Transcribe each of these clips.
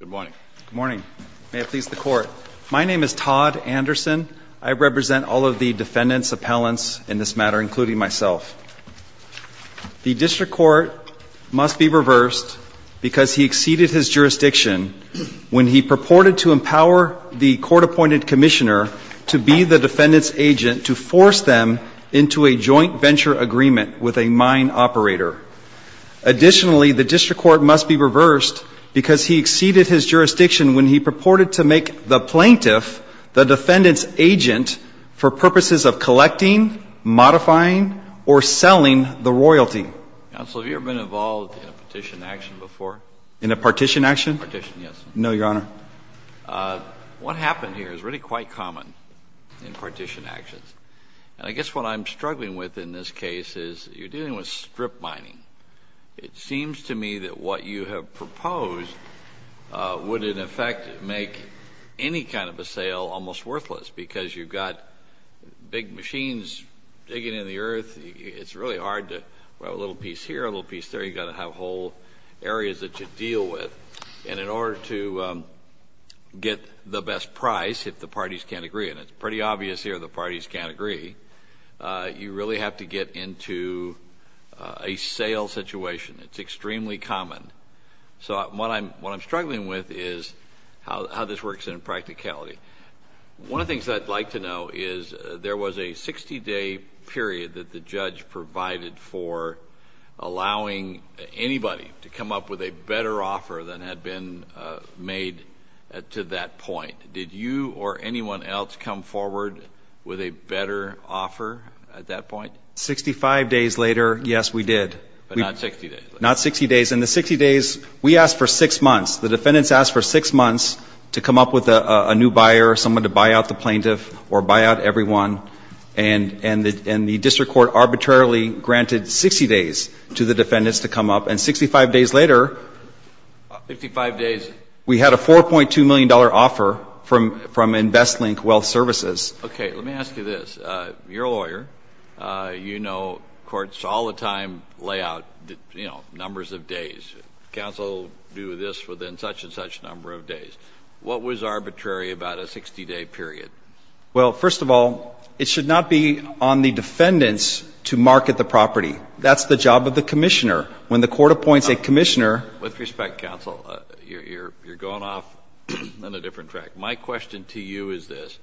Good morning. Good morning. May it please the Court. My name is Todd Anderson. I represent all of the defendants, appellants in this matter, including myself. The District Court must be reversed because he exceeded his jurisdiction when he purported to empower the court-appointed commissioner to be the defendant's agent to force them into a joint venture agreement with a mine operator. Additionally, the District Court must be reversed because he exceeded his jurisdiction when he purported to make the plaintiff the defendant's agent for purposes of collecting, modifying, or selling the royalty. Counsel, have you ever been involved in a partition action before? In a partition action? No, Your Honor. Your Honor, what happened here is really quite common in partition actions. And I guess what I'm struggling with in this case is you're dealing with strip mining. It seems to me that what you have proposed would, in effect, make any kind of a sale almost worthless because you've got big machines digging in the earth. It's really hard to have a little piece here, a little piece there. You've got to have whole areas that you deal with. And in order to get the best price, if the parties can't agree, and it's pretty obvious here the parties can't agree, you really have to get into a sale situation. It's extremely common. So what I'm struggling with is how this works in practicality. One of the things I'd like to know is there was a 60-day period that the judge provided for allowing anybody to come up with a better offer than had been made to that point. Did you or anyone else come forward with a better offer at that point? 65 days later, yes, we did. But not 60 days later? Not 60 days. We asked for six months. The defendants asked for six months to come up with a new buyer, someone to buy out the plaintiff or buy out everyone. And the district court arbitrarily granted 60 days to the defendants to come up. And 65 days later, we had a $4.2 million offer from InvestLink Wealth Services. Okay. Let me ask you this. You're a lawyer. You know courts all the time lay out, you know, numbers of days. Counsel do this within such and such number of days. What was arbitrary about a 60-day period? Well, first of all, it should not be on the defendants to market the property. That's the job of the commissioner. When the court appoints a commissioner ---- With respect, counsel, you're going off on a different track. My question to you is this.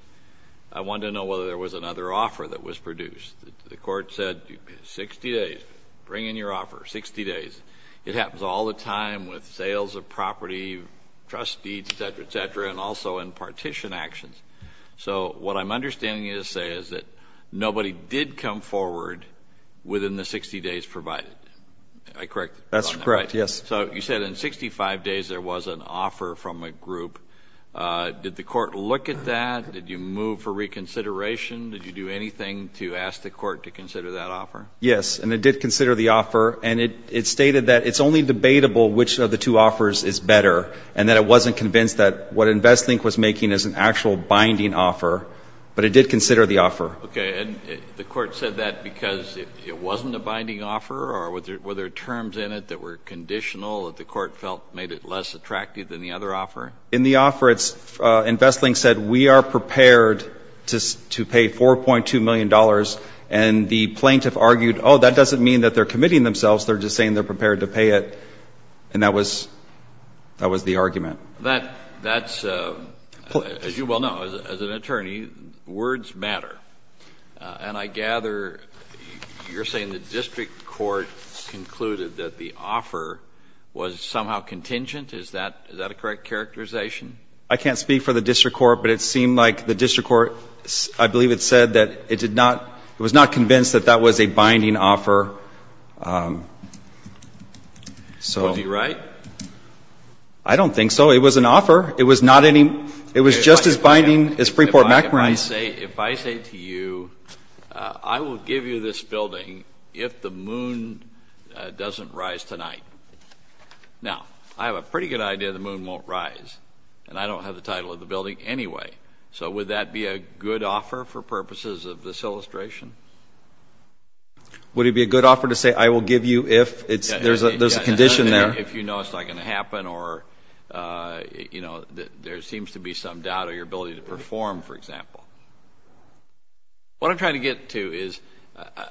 I want to know whether there was another offer that was produced. The court said 60 days. Bring in your offer. 60 days. It happens all the time with sales of property, trust deeds, et cetera, et cetera, and also in partition actions. So what I'm understanding you to say is that nobody did come forward within the 60 days provided. Am I correct? That's correct, yes. So you said in 65 days there was an offer from a group. Did the court look at that? Did you move for reconsideration? Did you do anything to ask the court to consider that offer? Yes, and it did consider the offer, and it stated that it's only debatable which of the two offers is better and that it wasn't convinced that what InvestLink was making is an actual binding offer, but it did consider the offer. Okay. And the court said that because it wasn't a binding offer or were there terms in it that were conditional that the court felt made it less attractive than the other offer? In the offer, InvestLink said we are prepared to pay $4.2 million, and the plaintiff argued, oh, that doesn't mean that they're committing themselves, they're just saying they're prepared to pay it, and that was the argument. That's, as you well know, as an attorney, words matter. And I gather you're saying the district court concluded that the offer was somehow contingent. Is that a correct characterization? I can't speak for the district court, but it seemed like the district court, I believe it said that it did not, it was not convinced that that was a binding offer. Would he be right? I don't think so. It was an offer. It was not any, it was just as binding as Freeport MacMorrise. If I say to you, I will give you this building if the moon doesn't rise tonight. Now, I have a pretty good idea the moon won't rise, and I don't have the title of the building anyway, so would that be a good offer for purposes of this illustration? Would it be a good offer to say I will give you if there's a condition there? If you know it's not going to happen or, you know, there seems to be some doubt of your ability to perform, for example. What I'm trying to get to is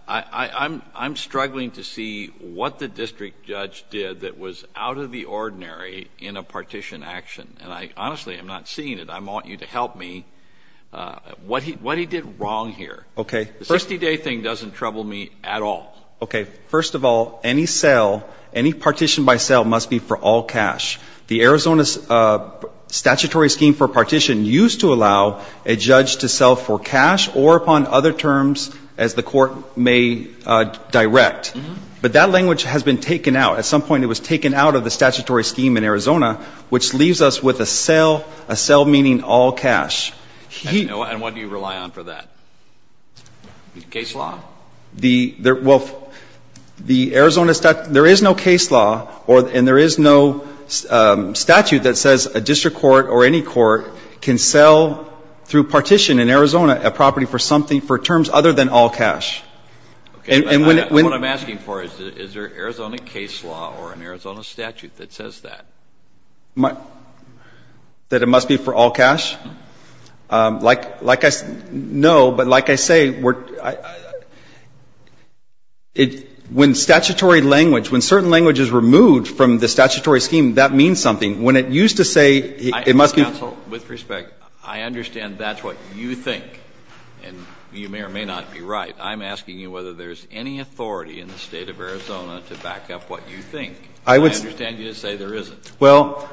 I'm struggling to see what the district judge did that was out of the ordinary in a partition action, and I honestly am not seeing it. I want you to help me. What he did wrong here. Okay. The 60-day thing doesn't trouble me at all. Okay. First of all, any sale, any partition by sale must be for all cash. The Arizona statutory scheme for partition used to allow a judge to sell for cash or upon other terms as the court may direct. But that language has been taken out. At some point it was taken out of the statutory scheme in Arizona, which leaves us with a sale, a sale meaning all cash. And what do you rely on for that? Case law? Well, the Arizona statute, there is no case law and there is no statute that says a district court or any court can sell through partition in Arizona a property for something, for terms other than all cash. Okay. And what I'm asking for is, is there an Arizona case law or an Arizona statute that says that? That it must be for all cash? Like I know, but like I say, when statutory language, when certain language is removed from the statutory scheme, that means something. When it used to say it must be. Counsel, with respect, I understand that's what you think. And you may or may not be right. I'm asking you whether there's any authority in the State of Arizona to back up what you think. I understand you say there isn't. Well,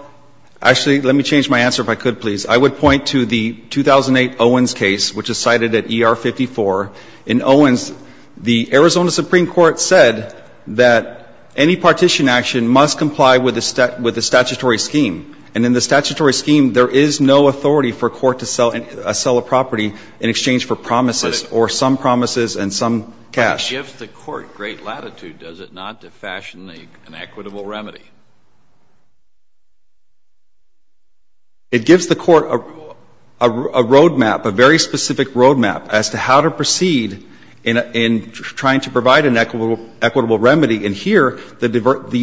actually, let me change my answer if I could, please. I would point to the 2008 Owens case, which is cited at ER 54. In Owens, the Arizona Supreme Court said that any partition action must comply with the statutory scheme. And in the statutory scheme, there is no authority for a court to sell a property in exchange for promises or some promises and some cash. But it gives the court great latitude, does it not, to fashion an equitable remedy? It gives the court a road map, a very specific road map as to how to proceed in trying to provide an equitable remedy. And here, the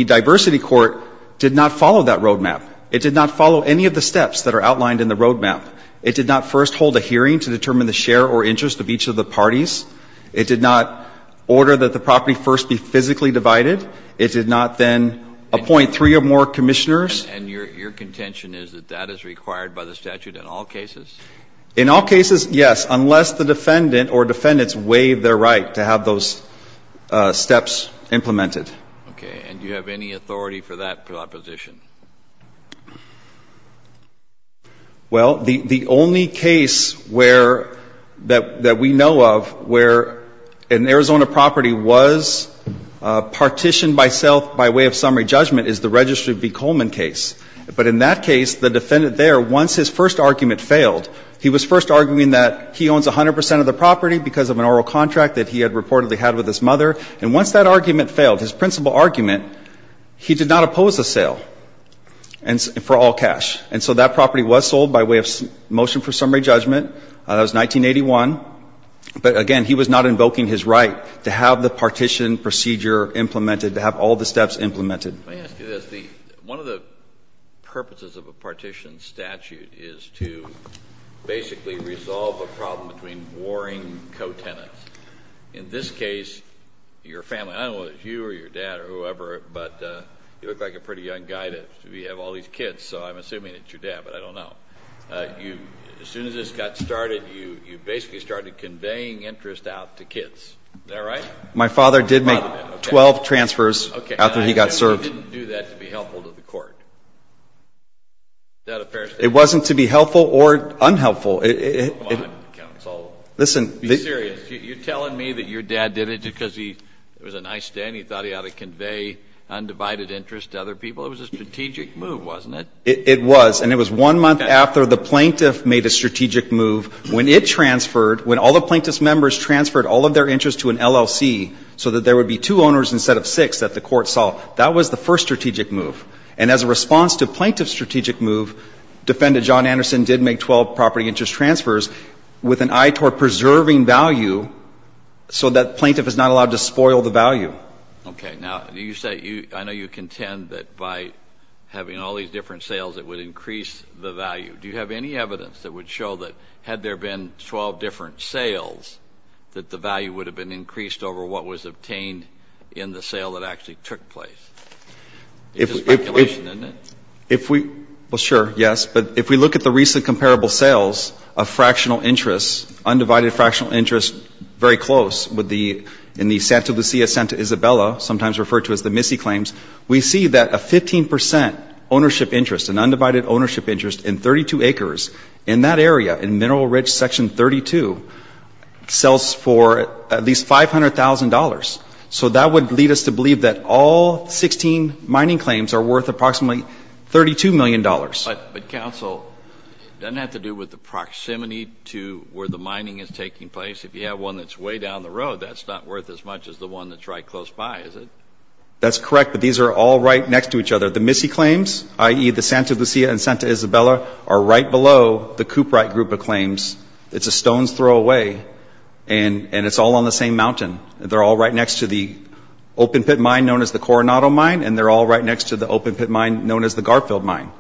diversity court did not follow that road map. It did not follow any of the steps that are outlined in the road map. It did not first hold a hearing to determine the share or interest of each of the parties. It did not order that the property first be physically divided. It did not then appoint three or more commissioners. And your contention is that that is required by the statute in all cases? In all cases, yes, unless the defendant or defendants waive their right to have those steps implemented. Okay. And do you have any authority for that proposition? Well, the only case where that we know of where an Arizona property was partitioned by sale by way of summary judgment is the Registry v. Coleman case. But in that case, the defendant there, once his first argument failed, he was first arguing that he owns 100 percent of the property because of an oral contract that he had reportedly had with his mother. And once that argument failed, his principal argument, he did not oppose the sale for all cash. And so that property was sold by way of motion for summary judgment. That was 1981. But again, he was not invoking his right to have the partition procedure implemented, to have all the steps implemented. Let me ask you this. One of the purposes of a partition statute is to basically resolve a problem between warring co-tenants. In this case, your family, I don't know whether it's you or your dad or whoever, but you look like a pretty young guy to have all these kids, so I'm assuming it's your dad, but I don't know. As soon as this got started, you basically started conveying interest out to kids. Is that right? My father did make 12 transfers after he got served. Okay. And you didn't do that to be helpful to the court. Is that a fair statement? It wasn't to be helpful or unhelpful. Come on, counsel. Be serious. You're telling me that your dad did it because it was a nice day and he thought he ought to convey undivided interest to other people? It was a strategic move, wasn't it? It was. And it was one month after the plaintiff made a strategic move. When it transferred, when all the plaintiff's members transferred all of their interest to an LLC so that there would be two owners instead of six that the court saw, that was the first strategic move. And as a response to plaintiff's strategic move, Defendant John Anderson did make 12 property interest transfers with an eye toward preserving value so that plaintiff is not allowed to spoil the value. Okay. Now, I know you contend that by having all these different sales, it would increase the value. Do you have any evidence that would show that had there been 12 different sales that the value would have been increased over what was obtained in the sale that actually took place? It's a speculation, isn't it? Well, sure, yes. But if we look at the recent comparable sales of fractional interest, undivided fractional interest, very close in the Santa Lucia, Santa Isabella, sometimes referred to as the Missy claims, we see that a 15 percent ownership interest, an undivided ownership interest in 32 acres in that area, in Mineral Ridge Section 32, sells for at least $500,000. So that would lead us to believe that all 16 mining claims are worth approximately $32 million. But, Counsel, doesn't that have to do with the proximity to where the mining is taking place? If you have one that's way down the road, that's not worth as much as the one that's right close by, is it? That's correct, but these are all right next to each other. The Missy claims, i.e., the Santa Lucia and Santa Isabella, are right below the Coopwright group of claims. It's a stone's throw away, and it's all on the same mountain. They're all right next to the open pit mine known as the Coronado Mine, and they're all right next to the open pit mine known as the Garfield Mine.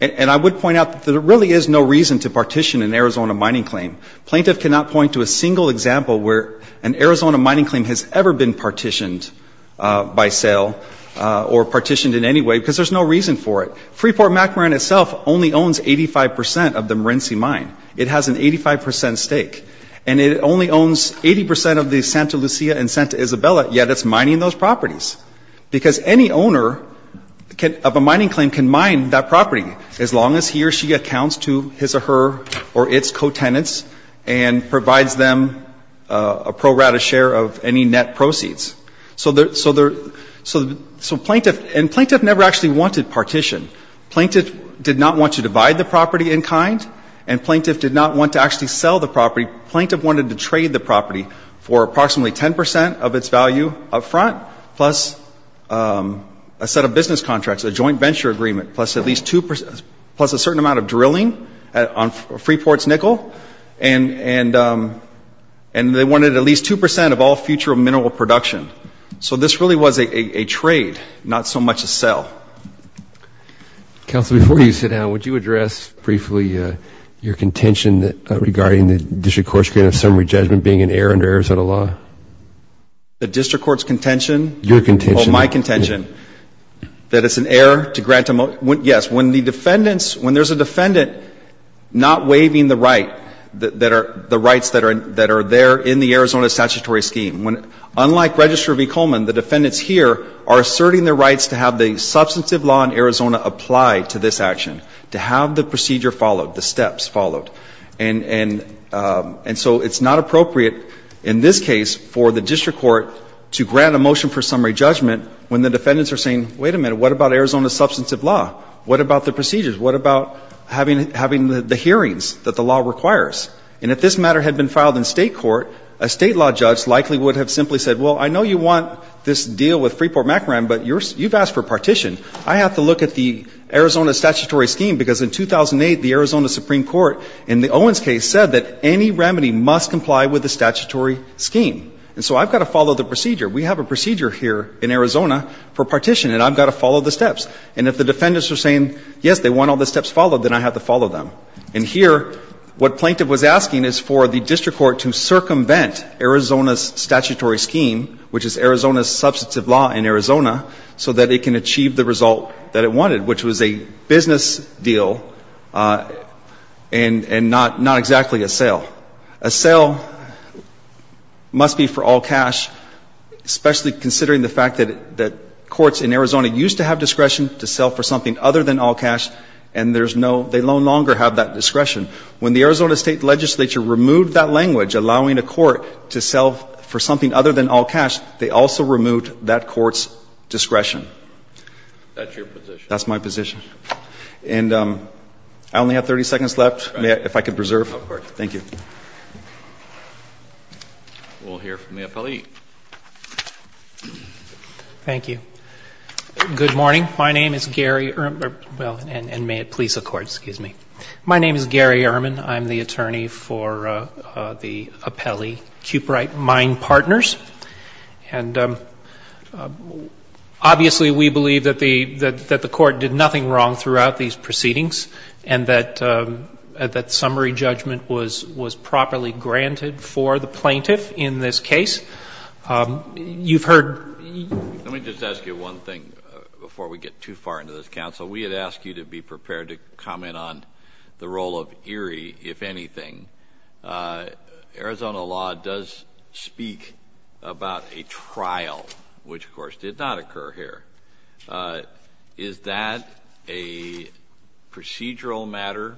And I would point out that there really is no reason to partition an Arizona mining claim. A plaintiff cannot point to a single example where an Arizona mining claim has ever been partitioned by sale or partitioned in any way because there's no reason for it. Freeport-McMoran itself only owns 85 percent of the Marense Mine. It has an 85 percent stake. And it only owns 80 percent of the Santa Lucia and Santa Isabella, yet it's mining those properties. Because any owner of a mining claim can mine that property as long as he or she accounts to his or her or its co-tenants and provides them a pro rata share of any net proceeds. So plaintiff never actually wanted partition. Plaintiff did not want to divide the property in kind, and plaintiff did not want to actually sell the property. Plaintiff wanted to trade the property for approximately 10 percent of its value up front, plus a set of business contracts, a joint venture agreement, plus a certain amount of drilling on Freeport's nickel. And they wanted at least 2 percent of all future mineral production. So this really was a trade, not so much a sell. Counsel, before you sit down, would you address briefly your contention regarding the district court's agreement of summary judgment being an error under Arizona law? The district court's contention? Your contention. Well, my contention, that it's an error to grant a motion. Yes. When the defendants, when there's a defendant not waiving the right, the rights that are there in the Arizona statutory scheme, unlike Registrar v. Coleman, the defendants here are asserting their rights to have the substantive law in Arizona apply to this action, to have the procedure followed, the steps followed. And so it's not appropriate in this case for the district court to grant a motion for summary judgment when the defendants are saying, wait a minute, what about Arizona's substantive law? What about the procedures? What about having the hearings that the law requires? And if this matter had been filed in state court, a state law judge likely would have simply said, well, I know you want this deal with Freeport-Macaron, but you've asked for partition. I have to look at the Arizona statutory scheme, because in 2008, the Arizona Supreme Court, in the Owens case, said that any remedy must comply with the statutory scheme. And so I've got to follow the procedure. We have a procedure here in Arizona for partition, and I've got to follow the steps. And if the defendants are saying, yes, they want all the steps followed, then I have to follow them. And here, what Plaintiff was asking is for the district court to circumvent Arizona's statutory scheme, which is Arizona's substantive law in Arizona, so that it can achieve the result that it wanted, which was a business deal, and not exactly a sale. A sale must be for all cash, especially considering the fact that courts in Arizona used to have discretion to sell for something other than all cash, and there's no — they no longer have that discretion. When the Arizona State Legislature removed that language, allowing a court to sell for something other than all cash, they also removed that court's discretion. That's your position. That's my position. And I only have 30 seconds left. May I — if I could preserve? Of course. Thank you. We'll hear from the appellee. Thank you. Good morning. My name is Gary — well, and may it please the Court, excuse me. My name is Gary Ehrman. I'm the attorney for the appellee, Kuprite Mine Partners. And obviously we believe that the Court did nothing wrong throughout these proceedings and that summary judgment was properly granted for the plaintiff in this case. You've heard — Let me just ask you one thing before we get too far into this, Counsel. We had asked you to be prepared to comment on the role of Erie, if anything. Arizona law does speak about a trial, which, of course, did not occur here. Is that a procedural matter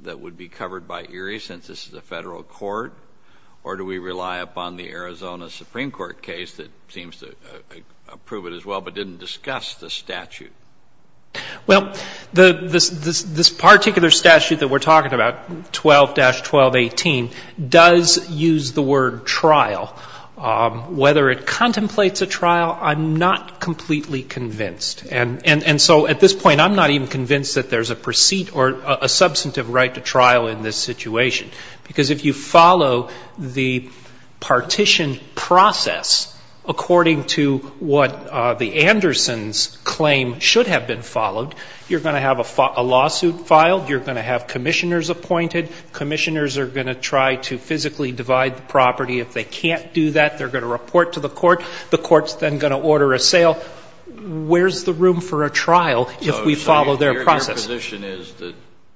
that would be covered by Erie, since this is a Federal Court? Or do we rely upon the Arizona Supreme Court case that seems to approve it as well but didn't discuss the statute? Well, this particular statute that we're talking about, 12-1218, does use the word trial. Whether it contemplates a trial, I'm not completely convinced. And so at this point, I'm not even convinced that there's a precede or a substantive right to trial in this situation, because if you follow the partition process according to what the Andersons claim should have been followed, you're going to have a lawsuit filed. You're going to have commissioners appointed. Commissioners are going to try to physically divide the property. If they can't do that, they're going to report to the court. The court's then going to order a sale. Where's the room for a trial if we follow their process? So your position is that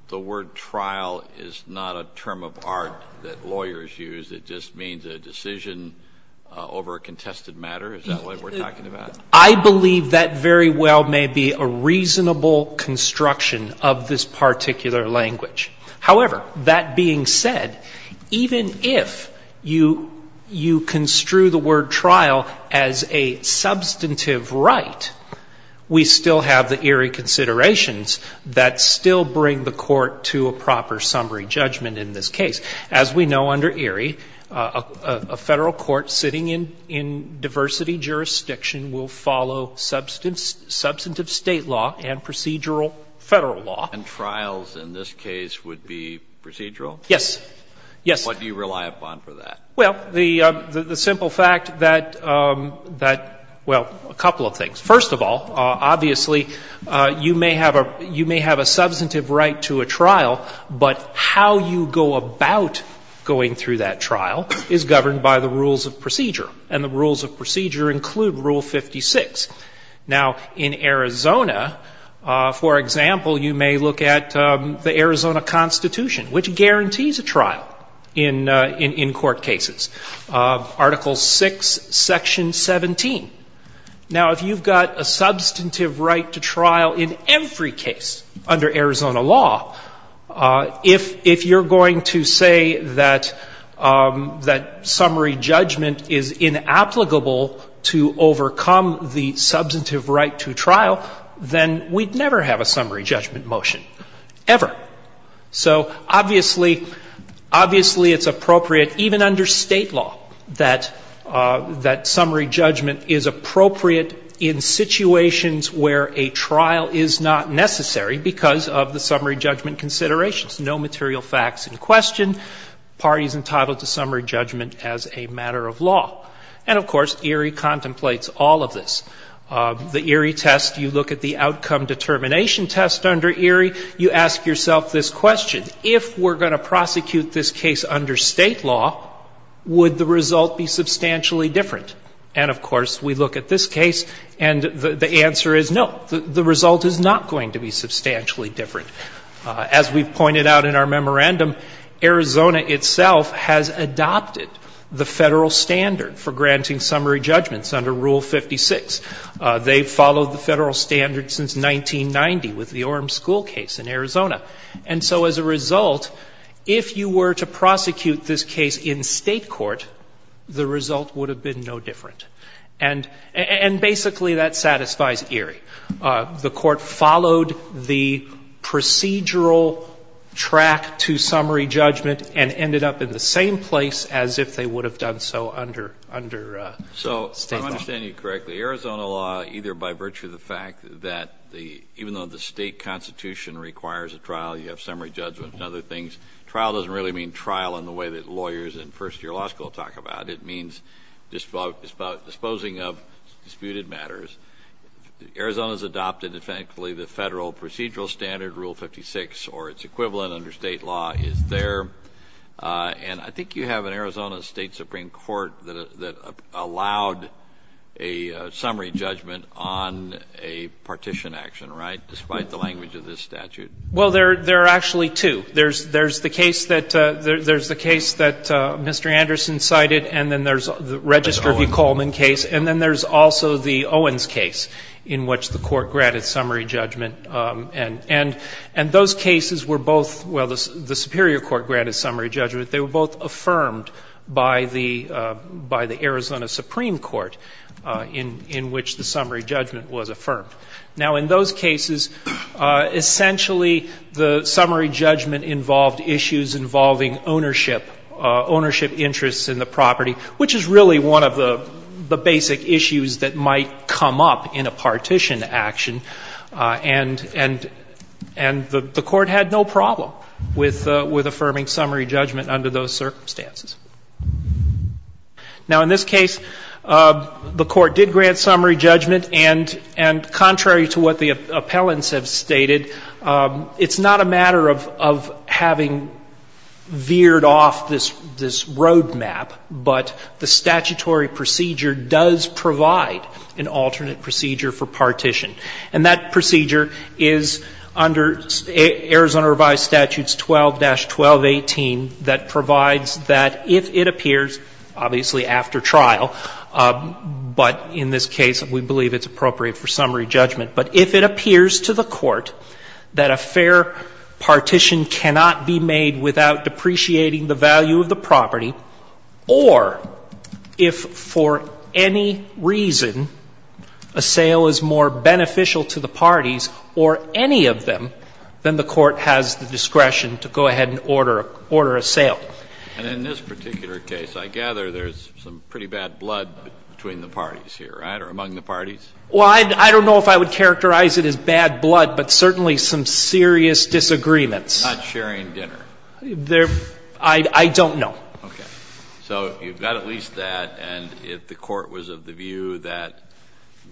the word trial is not a term of art that lawyers use. It just means a decision over a contested matter? Is that what we're talking about? I believe that very well may be a reasonable construction of this particular language. However, that being said, even if you construe the word trial as a substantive right, we still have the Erie considerations that still bring the court to a proper summary judgment in this case. As we know under Erie, a Federal court sitting in diversity jurisdiction will follow substantive State law and procedural Federal law. And trials in this case would be procedural? Yes. Yes. What do you rely upon for that? Well, the simple fact that, well, a couple of things. First of all, obviously, you may have a substantive right to a trial, but how you go about going through that trial is governed by the rules of procedure, and the rules of procedure include Rule 56. Now, in Arizona, for example, you may look at the Arizona Constitution, which guarantees a trial in court cases, Article VI, Section 17. Now, if you've got a substantive right to trial in every case under Arizona law, if you're going to say that summary judgment is inapplicable to overcome the substantive right to trial, then we'd never have a summary judgment motion, ever. So obviously, obviously it's appropriate, even under State law, that summary judgment is appropriate in situations where a trial is not necessary because of the summary judgment considerations, no material facts in question, parties entitled to summary judgment as a matter of law. And, of course, Erie contemplates all of this. The Erie test, you look at the outcome determination test under Erie, you ask yourself this question. If we're going to prosecute this case under State law, would the result be substantially different? And, of course, we look at this case, and the answer is no, the result is not going to be substantially different. As we've pointed out in our memorandum, Arizona itself has adopted the Federal standard for granting summary judgments under Rule 56. They've followed the Federal standard since 1990 with the Orem school case in Arizona. And so as a result, if you were to prosecute this case in State court, the result would have been no different. And basically that satisfies Erie. The Court followed the procedural track to summary judgment and ended up in the same place as if they would have done so under State law. So I understand you correctly. Arizona law, either by virtue of the fact that even though the State constitution requires a trial, you have summary judgment and other things, trial doesn't really mean trial in the way that lawyers in first year law school talk about. It means disposing of disputed matters. Arizona's adopted, thankfully, the Federal procedural standard, Rule 56, or its equivalent under State law is there. And I think you have an Arizona State Supreme Court that allowed a summary judgment on a partition action, right, despite the language of this statute. Well, there are actually two. There's the case that Mr. Anderson cited, and then there's the Register v. Coleman case, and then there's also the Owens case in which the Court granted summary judgment. And those cases were both, well, the Superior Court granted summary judgment. They were both affirmed by the Arizona Supreme Court in which the summary judgment was affirmed. Now, in those cases, essentially the summary judgment involved issues involving ownership, ownership interests in the property, which is really one of the basic issues that might come up in a partition action, and the Court had no problem with affirming summary judgment under those circumstances. Now, in this case, the Court did grant summary judgment, and contrary to what the road map, but the statutory procedure does provide an alternate procedure for partition. And that procedure is under Arizona Revised Statutes 12-1218 that provides that if it appears, obviously after trial, but in this case we believe it's appropriate for summary judgment, but if it appears to the Court that a fair partition cannot be made without depreciating the value of the property, or if for any reason a sale is more beneficial to the parties or any of them, then the Court has the discretion to go ahead and order a sale. And in this particular case, I gather there's some pretty bad blood between the parties here, right, or among the parties? Well, I don't know if I would characterize it as bad blood, but certainly some serious disagreements. Not sharing dinner? I don't know. Okay. So you've got at least that, and if the Court was of the view that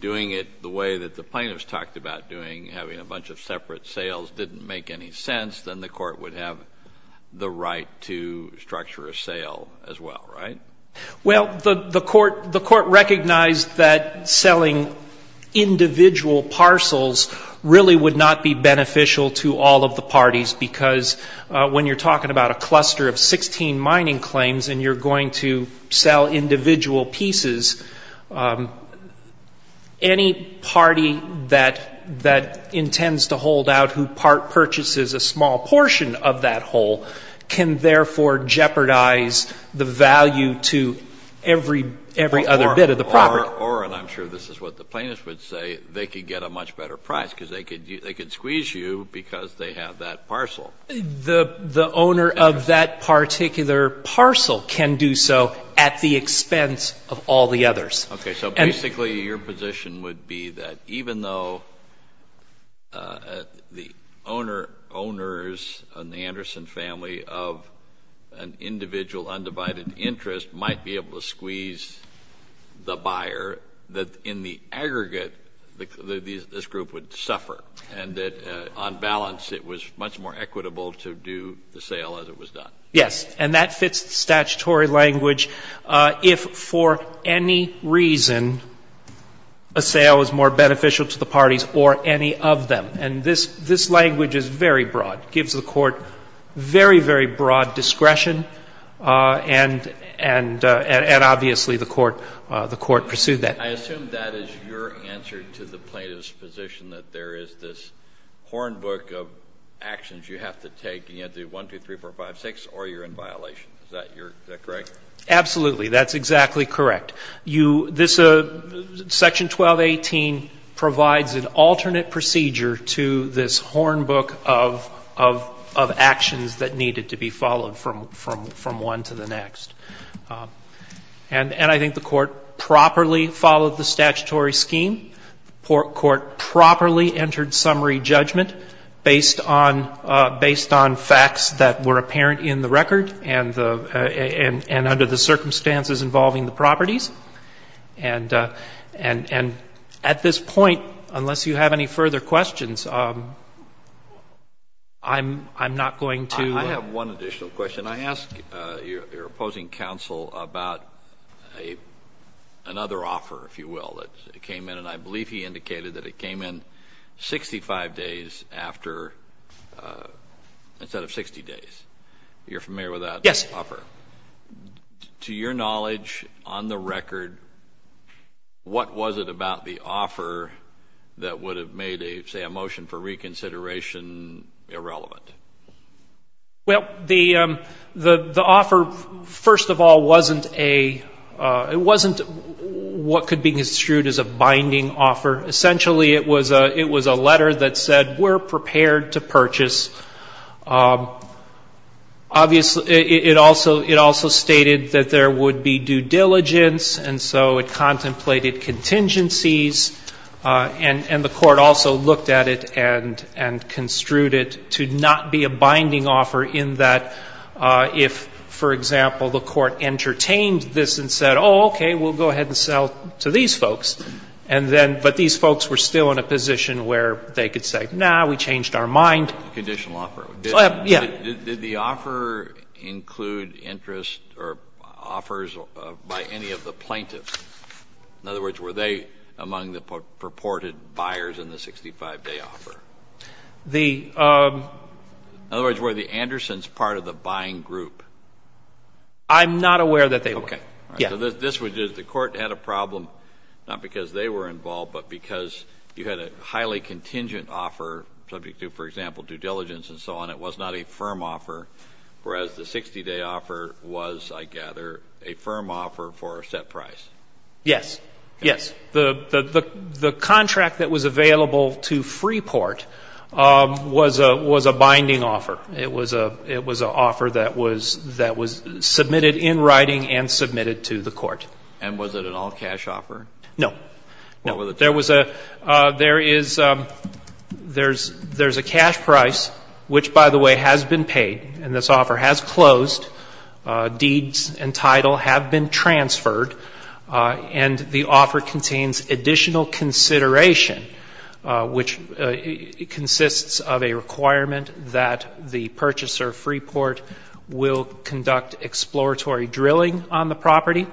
doing it the way that the plaintiffs talked about doing, having a bunch of separate sales, didn't make any sense, then the Court would have the right to structure a sale as well, right? Well, the Court recognized that selling individual parcels really would not be beneficial to all of the parties, because when you're talking about a cluster of 16 mining claims and you're going to sell individual pieces, any party that intends to hold out who purchases a small portion of that whole can therefore jeopardize the value to every other bit of the property. Or, and I'm sure this is what the plaintiffs would say, they could get a much better price, because they could squeeze you because they have that parcel. The owner of that particular parcel can do so at the expense of all the others. Okay. So basically your position would be that even though the owners on the Anderson family of an individual undivided interest might be able to squeeze the buyer, that in the case of the Anderson family, the buyer would suffer and that on balance it was much more equitable to do the sale as it was done. Yes. And that fits the statutory language if for any reason a sale is more beneficial to the parties or any of them. And this language is very broad. It gives the Court very, very broad discretion and obviously the Court pursued that. I assume that is your answer to the plaintiff's position that there is this horn book of actions you have to take and you have to do 1, 2, 3, 4, 5, 6 or you're in violation. Is that your, is that correct? Absolutely. That's exactly correct. You, this Section 1218 provides an alternate procedure to this horn book of actions that needed to be followed from one to the next. And I think the Court properly followed the statutory scheme. The Court properly entered summary judgment based on facts that were apparent in the record and under the circumstances involving the properties. And at this point, unless you have any further questions, I'm not going to. I have one additional question. Can I ask your opposing counsel about another offer, if you will, that came in? And I believe he indicated that it came in 65 days after, instead of 60 days. You're familiar with that offer? Yes. To your knowledge, on the record, what was it about the offer that would have made, say, a motion for reconsideration irrelevant? Well, the offer, first of all, wasn't a, it wasn't what could be construed as a binding offer. Essentially, it was a letter that said, we're prepared to purchase. Obviously, it also stated that there would be due diligence, and so it contemplated contingencies, and the Court also looked at it and construed it to not be a binding offer in that if, for example, the Court entertained this and said, oh, okay, we'll go ahead and sell to these folks, and then, but these folks were still in a position where they could say, no, we changed our mind. Conditional offer. Yeah. Did the offer include interest or offers by any of the plaintiffs? In other words, were they among the purported buyers in the 65-day offer? The — In other words, were the Andersons part of the buying group? I'm not aware that they were. Okay. Yeah. So this would, the Court had a problem, not because they were involved, but because you had a highly contingent offer, subject to, for example, due diligence and so on. It was not a firm offer, whereas the 60-day offer was, I gather, a firm offer for a set price. Yes. Yes. The contract that was available to Freeport was a binding offer. It was an offer that was submitted in writing and submitted to the Court. And was it an all-cash offer? No. No. There was a — there is — there's a cash price, which, by the way, has been paid and this offer has closed. Deeds and title have been transferred. And the offer contains additional consideration, which consists of a requirement that the purchaser, Freeport, will conduct exploratory drilling on the property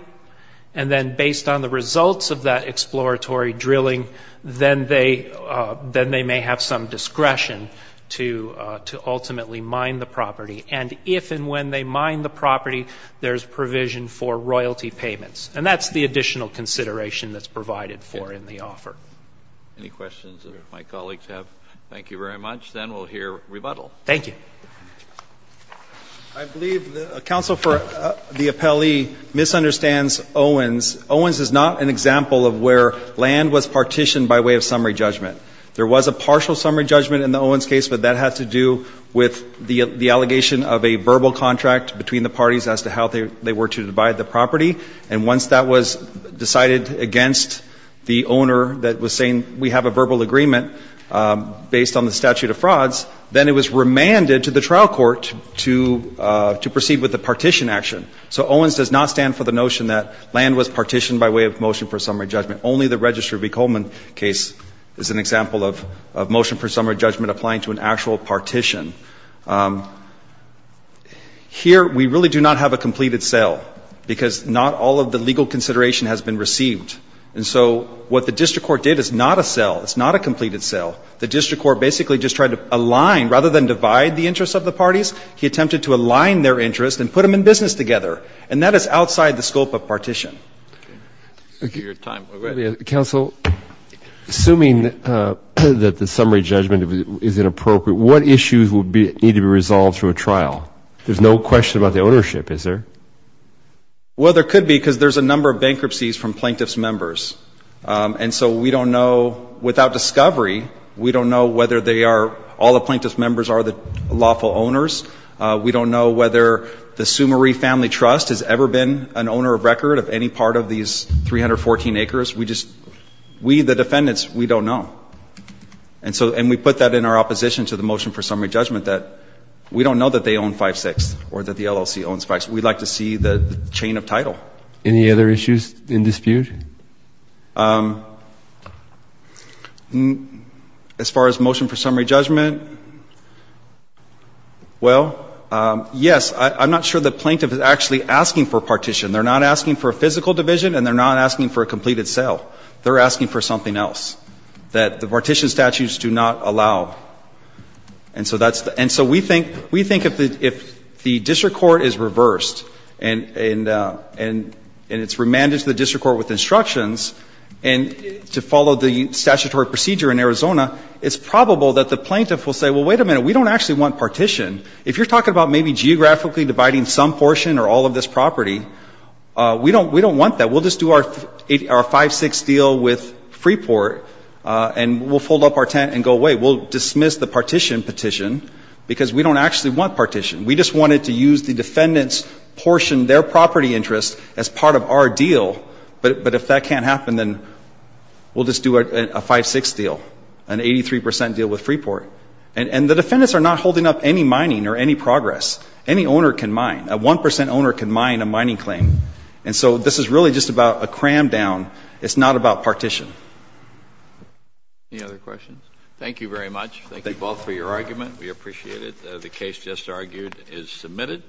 and then, based on the results of that exploratory drilling, then they may have some discretion to ultimately mine the property. And if and when they mine the property, there's provision for royalty payments. And that's the additional consideration that's provided for in the offer. Okay. Any questions that my colleagues have? Thank you very much. Then we'll hear rebuttal. Thank you. I believe the counsel for the appellee misunderstands Owens. Owens is not an example of where land was partitioned by way of summary judgment. There was a partial summary judgment in the Owens case, but that had to do with the allegation of a verbal contract between the parties as to how they were to divide the property. And once that was decided against the owner that was saying we have a verbal agreement based on the statute of frauds, then it was remanded to the trial court to proceed with the partition action. So Owens does not stand for the notion that land was partitioned by way of motion for summary judgment. Only the Register v. Coleman case is an example of motion for summary judgment applying to an actual partition. Here, we really do not have a completed sale because not all of the legal consideration has been received. And so what the district court did is not a sale. It's not a completed sale. The district court basically just tried to align. Rather than divide the interests of the parties, he attempted to align their interests and put them in business together. And that is outside the scope of partition. Counsel, assuming that the summary judgment is inappropriate, what issues would need to be resolved through a trial? There's no question about the ownership, is there? Well, there could be because there's a number of bankruptcies from plaintiff's members. And so we don't know, without discovery, we don't know whether they are, all the plaintiff's members are the lawful owners. We don't know whether the Summary Family Trust has ever been an owner of record of any part of these 314 acres. We just, we, the defendants, we don't know. And so, and we put that in our opposition to the motion for summary judgment that we don't know that they own 5-6 or that the LLC owns 5-6. We'd like to see the chain of title. Any other issues in dispute? As far as motion for summary judgment, well, yes, I'm not sure the plaintiff is actually asking for a partition. They're not asking for a physical division and they're not asking for a completed sale. They're asking for something else, that the partition statutes do not allow. And so that's the, and so we think, we think if the district court is reversed and it's remanded to the district court with instructions and to follow the statutory procedure in Arizona, it's probable that the plaintiff will say, well, wait a minute, we don't actually want partition. If you're talking about maybe geographically dividing some portion or all of this property, we don't want that. We'll just do our 5-6 deal with Freeport and we'll fold up our tent and go away. We'll dismiss the partition petition because we don't actually want partition. We just wanted to use the defendant's portion, their property interest, as part of our deal. But if that can't happen, then we'll just do a 5-6 deal, an 83% deal with Freeport. And the defendants are not holding up any mining or any progress. Any owner can mine. A 1% owner can mine a mining claim. And so this is really just about a cram down. It's not about partition. Any other questions? Thank you very much. Thank you both for your argument. We appreciate it. The case just argued is submitted.